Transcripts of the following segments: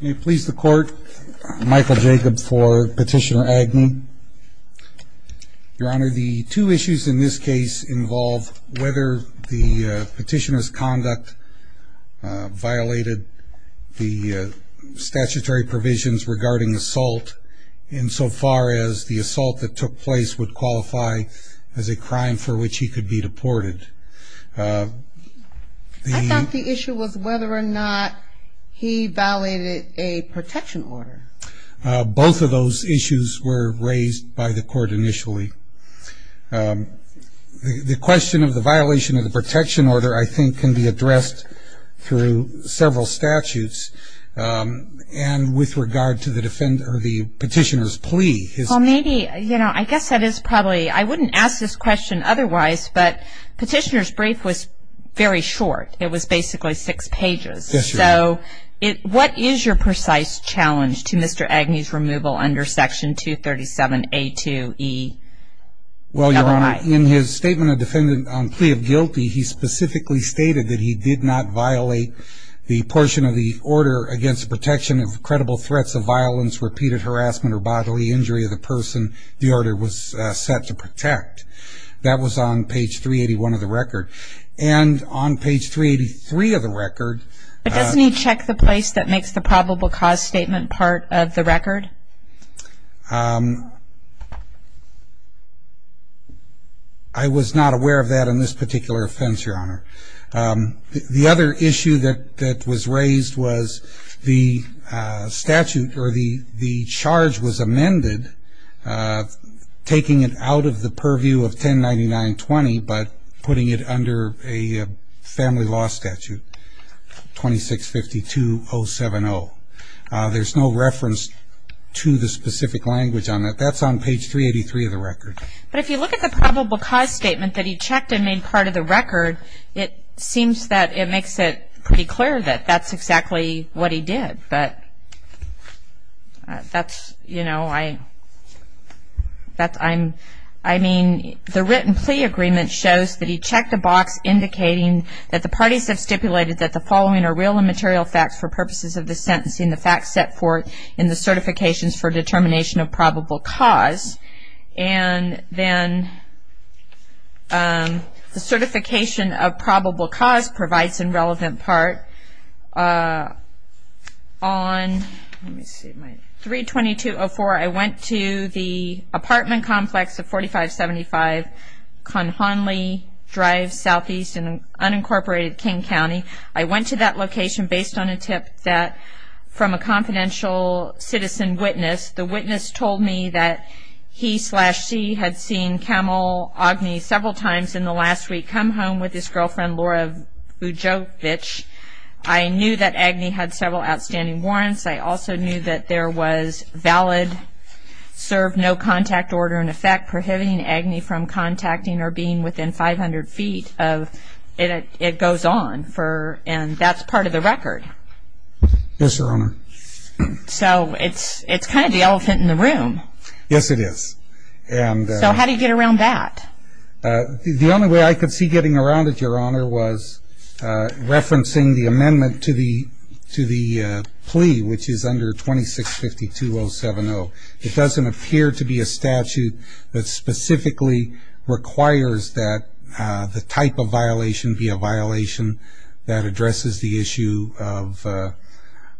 May it please the Court, Michael Jacobs for Petitioner Agni. Your Honor, the two issues in this case involve whether the petitioner's conduct violated the statutory provisions regarding assault, insofar as the assault that took place would qualify as a crime for which he could be deported. I thought the issue was whether or not he violated a protection order. Both of those issues were raised by the Court initially. The question of the violation of the protection order, I think, can be addressed through several statutes and with regard to the petitioner's plea. Well, maybe, you know, I guess that is probably, I wouldn't ask this question otherwise, but Petitioner's brief was very short. It was basically six pages. Yes, Your Honor. So what is your precise challenge to Mr. Agni's removal under Section 237A2E? Well, Your Honor, in his statement of defendant on plea of guilty, he specifically stated that he did not violate the portion of the order against protection of credible threats of violence, repeated harassment, or bodily injury of the person the order was set to protect. That was on page 381 of the record. And on page 383 of the record. But doesn't he check the place that makes the probable cause statement part of the record? I was not aware of that in this particular offense, Your Honor. The other issue that was raised was the statute or the charge was amended, taking it out of the purview of 1099-20 but putting it under a family law statute, 2652-070. There's no reference to the specific language on it. That's on page 383 of the record. But if you look at the probable cause statement that he checked and made part of the record, it seems that it makes it pretty clear that that's exactly what he did. But that's, you know, I mean, the written plea agreement shows that he checked the box indicating that the parties have stipulated that the following are real and material facts for purposes of this sentencing, the facts set forth in the certifications for determination of probable cause. And then the certification of probable cause provides a relevant part. On 3-2204, I went to the apartment complex of 4575 Conn-Honley Drive, southeast in unincorporated King County. I went to that location based on a tip from a confidential citizen witness. The witness told me that he slash she had seen Camel Ogney several times in the last week come home with his girlfriend Laura Vujovic. I knew that Ogney had several outstanding warrants. I also knew that there was valid serve no contact order in effect prohibiting Ogney from contacting or being within 500 feet of it goes on. And that's part of the record. Yes, Your Honor. So it's kind of the elephant in the room. Yes, it is. So how do you get around that? The only way I could see getting around it, Your Honor, was referencing the amendment to the plea, which is under 2652-070. It doesn't appear to be a statute that specifically requires that the type of violation be a violation that addresses the issue of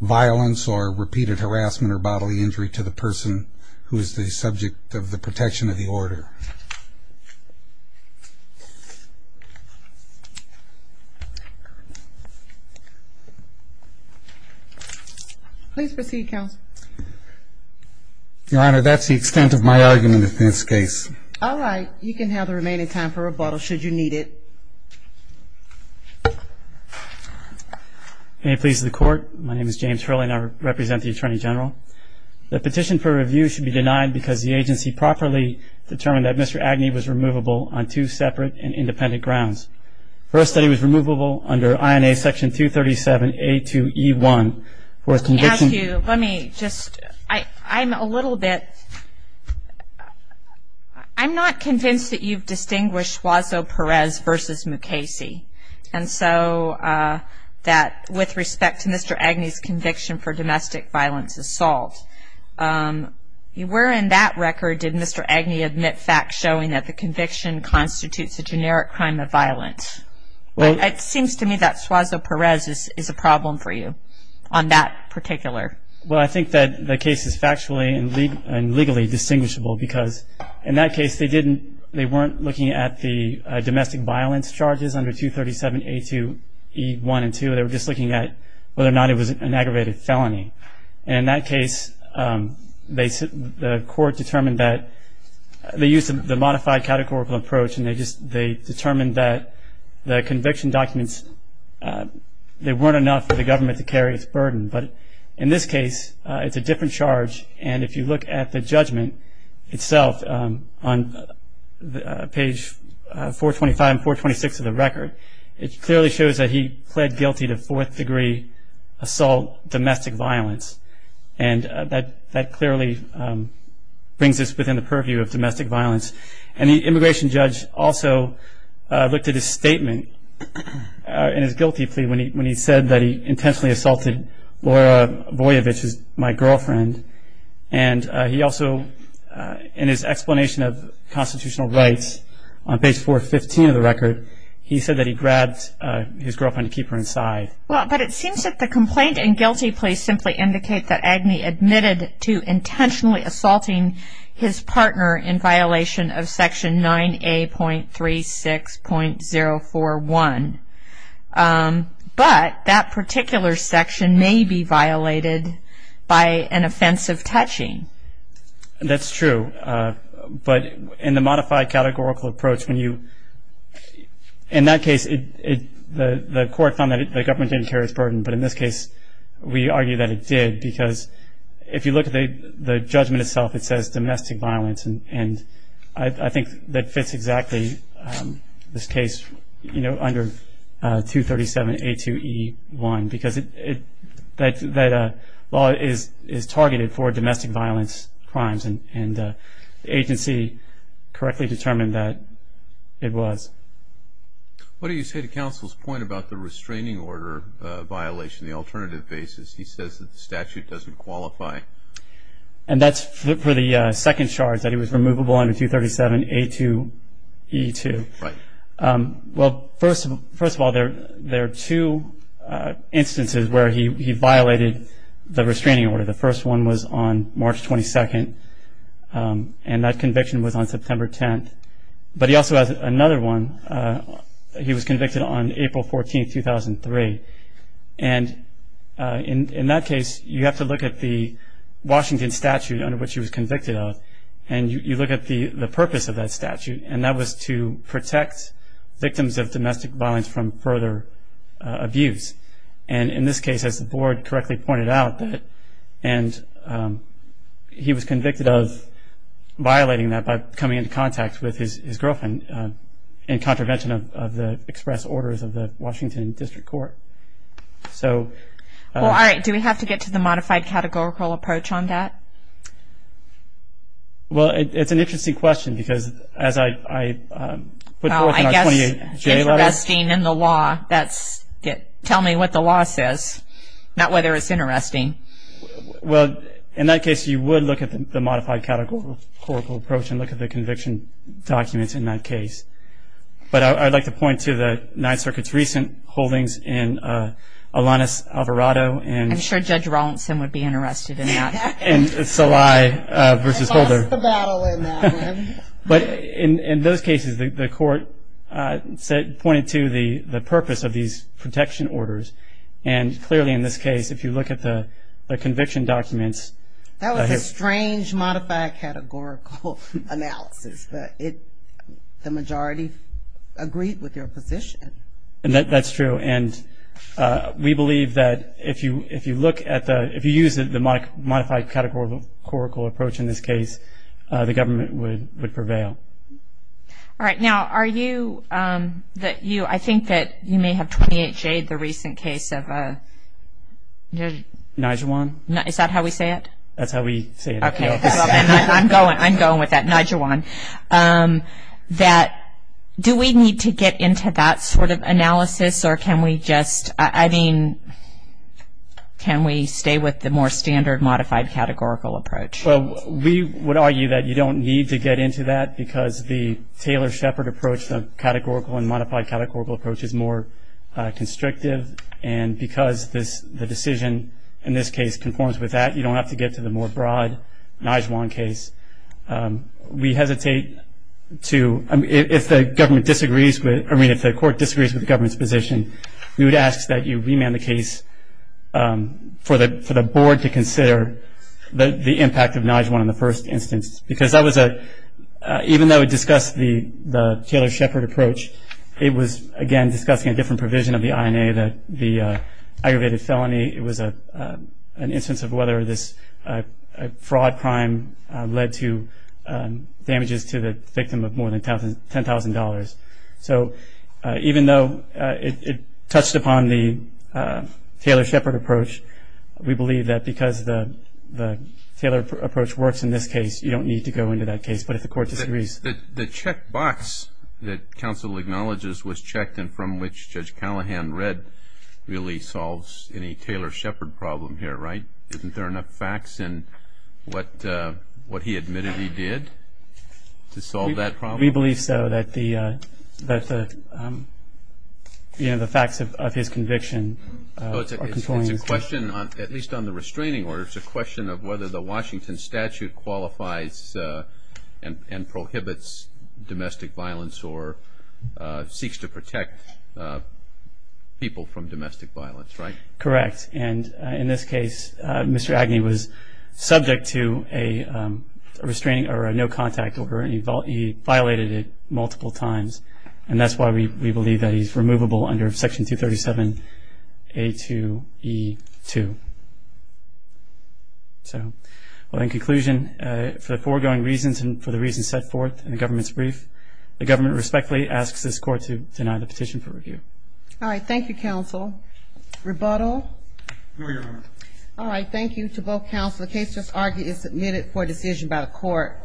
violence or repeated harassment or bodily injury to the person who is the subject of the protection of the order. Please proceed, counsel. Your Honor, that's the extent of my argument in this case. All right. Your Honor, you can have the remaining time for rebuttal should you need it. May it please the Court, my name is James Hurley and I represent the Attorney General. The petition for review should be denied because the agency properly determined that Mr. Ogney was removable on two separate and independent grounds. First, that he was removable under INA Section 237A2E1 for his conviction. Let me ask you, let me just, I'm a little bit, I'm not convinced that you've distinguished Suazo-Perez versus Mukasey. And so that with respect to Mr. Ogney's conviction for domestic violence assault, where in that record did Mr. Ogney admit facts showing that the conviction constitutes a generic crime of violence? It seems to me that Suazo-Perez is a problem for you on that particular. Well, I think that the case is factually and legally distinguishable because in that case they didn't, they weren't looking at the domestic violence charges under 237A2E1 and 2, they were just looking at whether or not it was an aggravated felony. And in that case the Court determined that, they used the modified categorical approach and they determined that the conviction documents, they weren't enough for the government to carry its burden. But in this case it's a different charge and if you look at the judgment itself on page 425 and 426 of the record, it clearly shows that he pled guilty to fourth degree assault domestic violence. And that clearly brings us within the purview of domestic violence. And the immigration judge also looked at his statement in his guilty plea when he said that he intentionally assaulted Laura Voyevich, my girlfriend. And he also, in his explanation of constitutional rights on page 415 of the record, he said that he grabbed his girlfriend to keep her inside. Well, but it seems that the complaint and guilty plea simply indicate that Ogney admitted to intentionally assaulting his partner in violation of section 9A.36.041. But that particular section may be violated by an offensive touching. That's true. But in the modified categorical approach when you, in that case, the Court found that the government didn't carry its burden. But in this case we argue that it did because if you look at the judgment itself, it says domestic violence and I think that fits exactly this case under 237A2E1 because that law is targeted for domestic violence crimes and the agency correctly determined that it was. What do you say to counsel's point about the restraining order violation, the alternative basis? He says that the statute doesn't qualify. And that's for the second charge, that it was removable under 237A2E2. Right. Well, first of all, there are two instances where he violated the restraining order. The first one was on March 22nd and that conviction was on September 10th. But he also has another one. He was convicted on April 14th, 2003. And in that case you have to look at the Washington statute under which he was convicted of and you look at the purpose of that statute and that was to protect victims of domestic violence from further abuse. And in this case, as the Board correctly pointed out, and he was convicted of violating that by coming into contact with his girlfriend in contravention of the express orders of the Washington District Court. Well, all right. Do we have to get to the modified categorical approach on that? Well, it's an interesting question because as I put forth in our 28J letter. Tell me what the law says, not whether it's interesting. Well, in that case you would look at the modified categorical approach and look at the conviction documents in that case. But I'd like to point to the Ninth Circuit's recent holdings in Alanis Alvarado. I'm sure Judge Rawlinson would be interested in that. And Salai versus Holder. I lost the battle in that one. But in those cases, the court pointed to the purpose of these protection orders. And clearly in this case, if you look at the conviction documents. That was a strange modified categorical analysis. But the majority agreed with your position. That's true. And we believe that if you use the modified categorical approach in this case, the government would prevail. All right. Now are you, I think that you may have 28J'd the recent case of... Nijewan. Is that how we say it? That's how we say it. Okay. I'm going with that, Nijewan. Do we need to get into that sort of analysis? Or can we just, I mean, can we stay with the more standard modified categorical approach? Well, we would argue that you don't need to get into that because the Taylor-Shepard approach, the categorical and modified categorical approach is more constrictive. And because the decision in this case conforms with that, you don't have to get to the more broad Nijewan case. We hesitate to, if the government disagrees with, I mean, if the court disagrees with the government's position, we would ask that you remand the case for the board to consider the impact of Nijewan in the first instance. Because that was a, even though it discussed the Taylor-Shepard approach, it was, again, discussing a different provision of the INA that the aggravated felony, it was an instance of whether this fraud crime led to damages to the victim of more than $10,000. So even though it touched upon the Taylor-Shepard approach, we believe that because the Taylor approach works in this case, you don't need to go into that case. But if the court disagrees. The checkbox that counsel acknowledges was checked and from which Judge Callahan read really solves any Taylor-Shepard problem here, right? Isn't there enough facts in what he admitted he did to solve that problem? We believe so, that the facts of his conviction. It's a question, at least on the restraining order, it's a question of whether the Washington statute qualifies and prohibits domestic violence or seeks to protect people from domestic violence, right? Correct. And in this case, Mr. Agnew was subject to a restraining or a no contact order and he violated it multiple times. And that's why we believe that he's removable under Section 237A2E2. So in conclusion, for the foregoing reasons and for the reasons set forth in the government's brief, the government respectfully asks this court to deny the petition for review. All right. Thank you, counsel. Rebuttal? No, Your Honor. All right. Thank you to both counsel. The case just argued is submitted for decision by the court.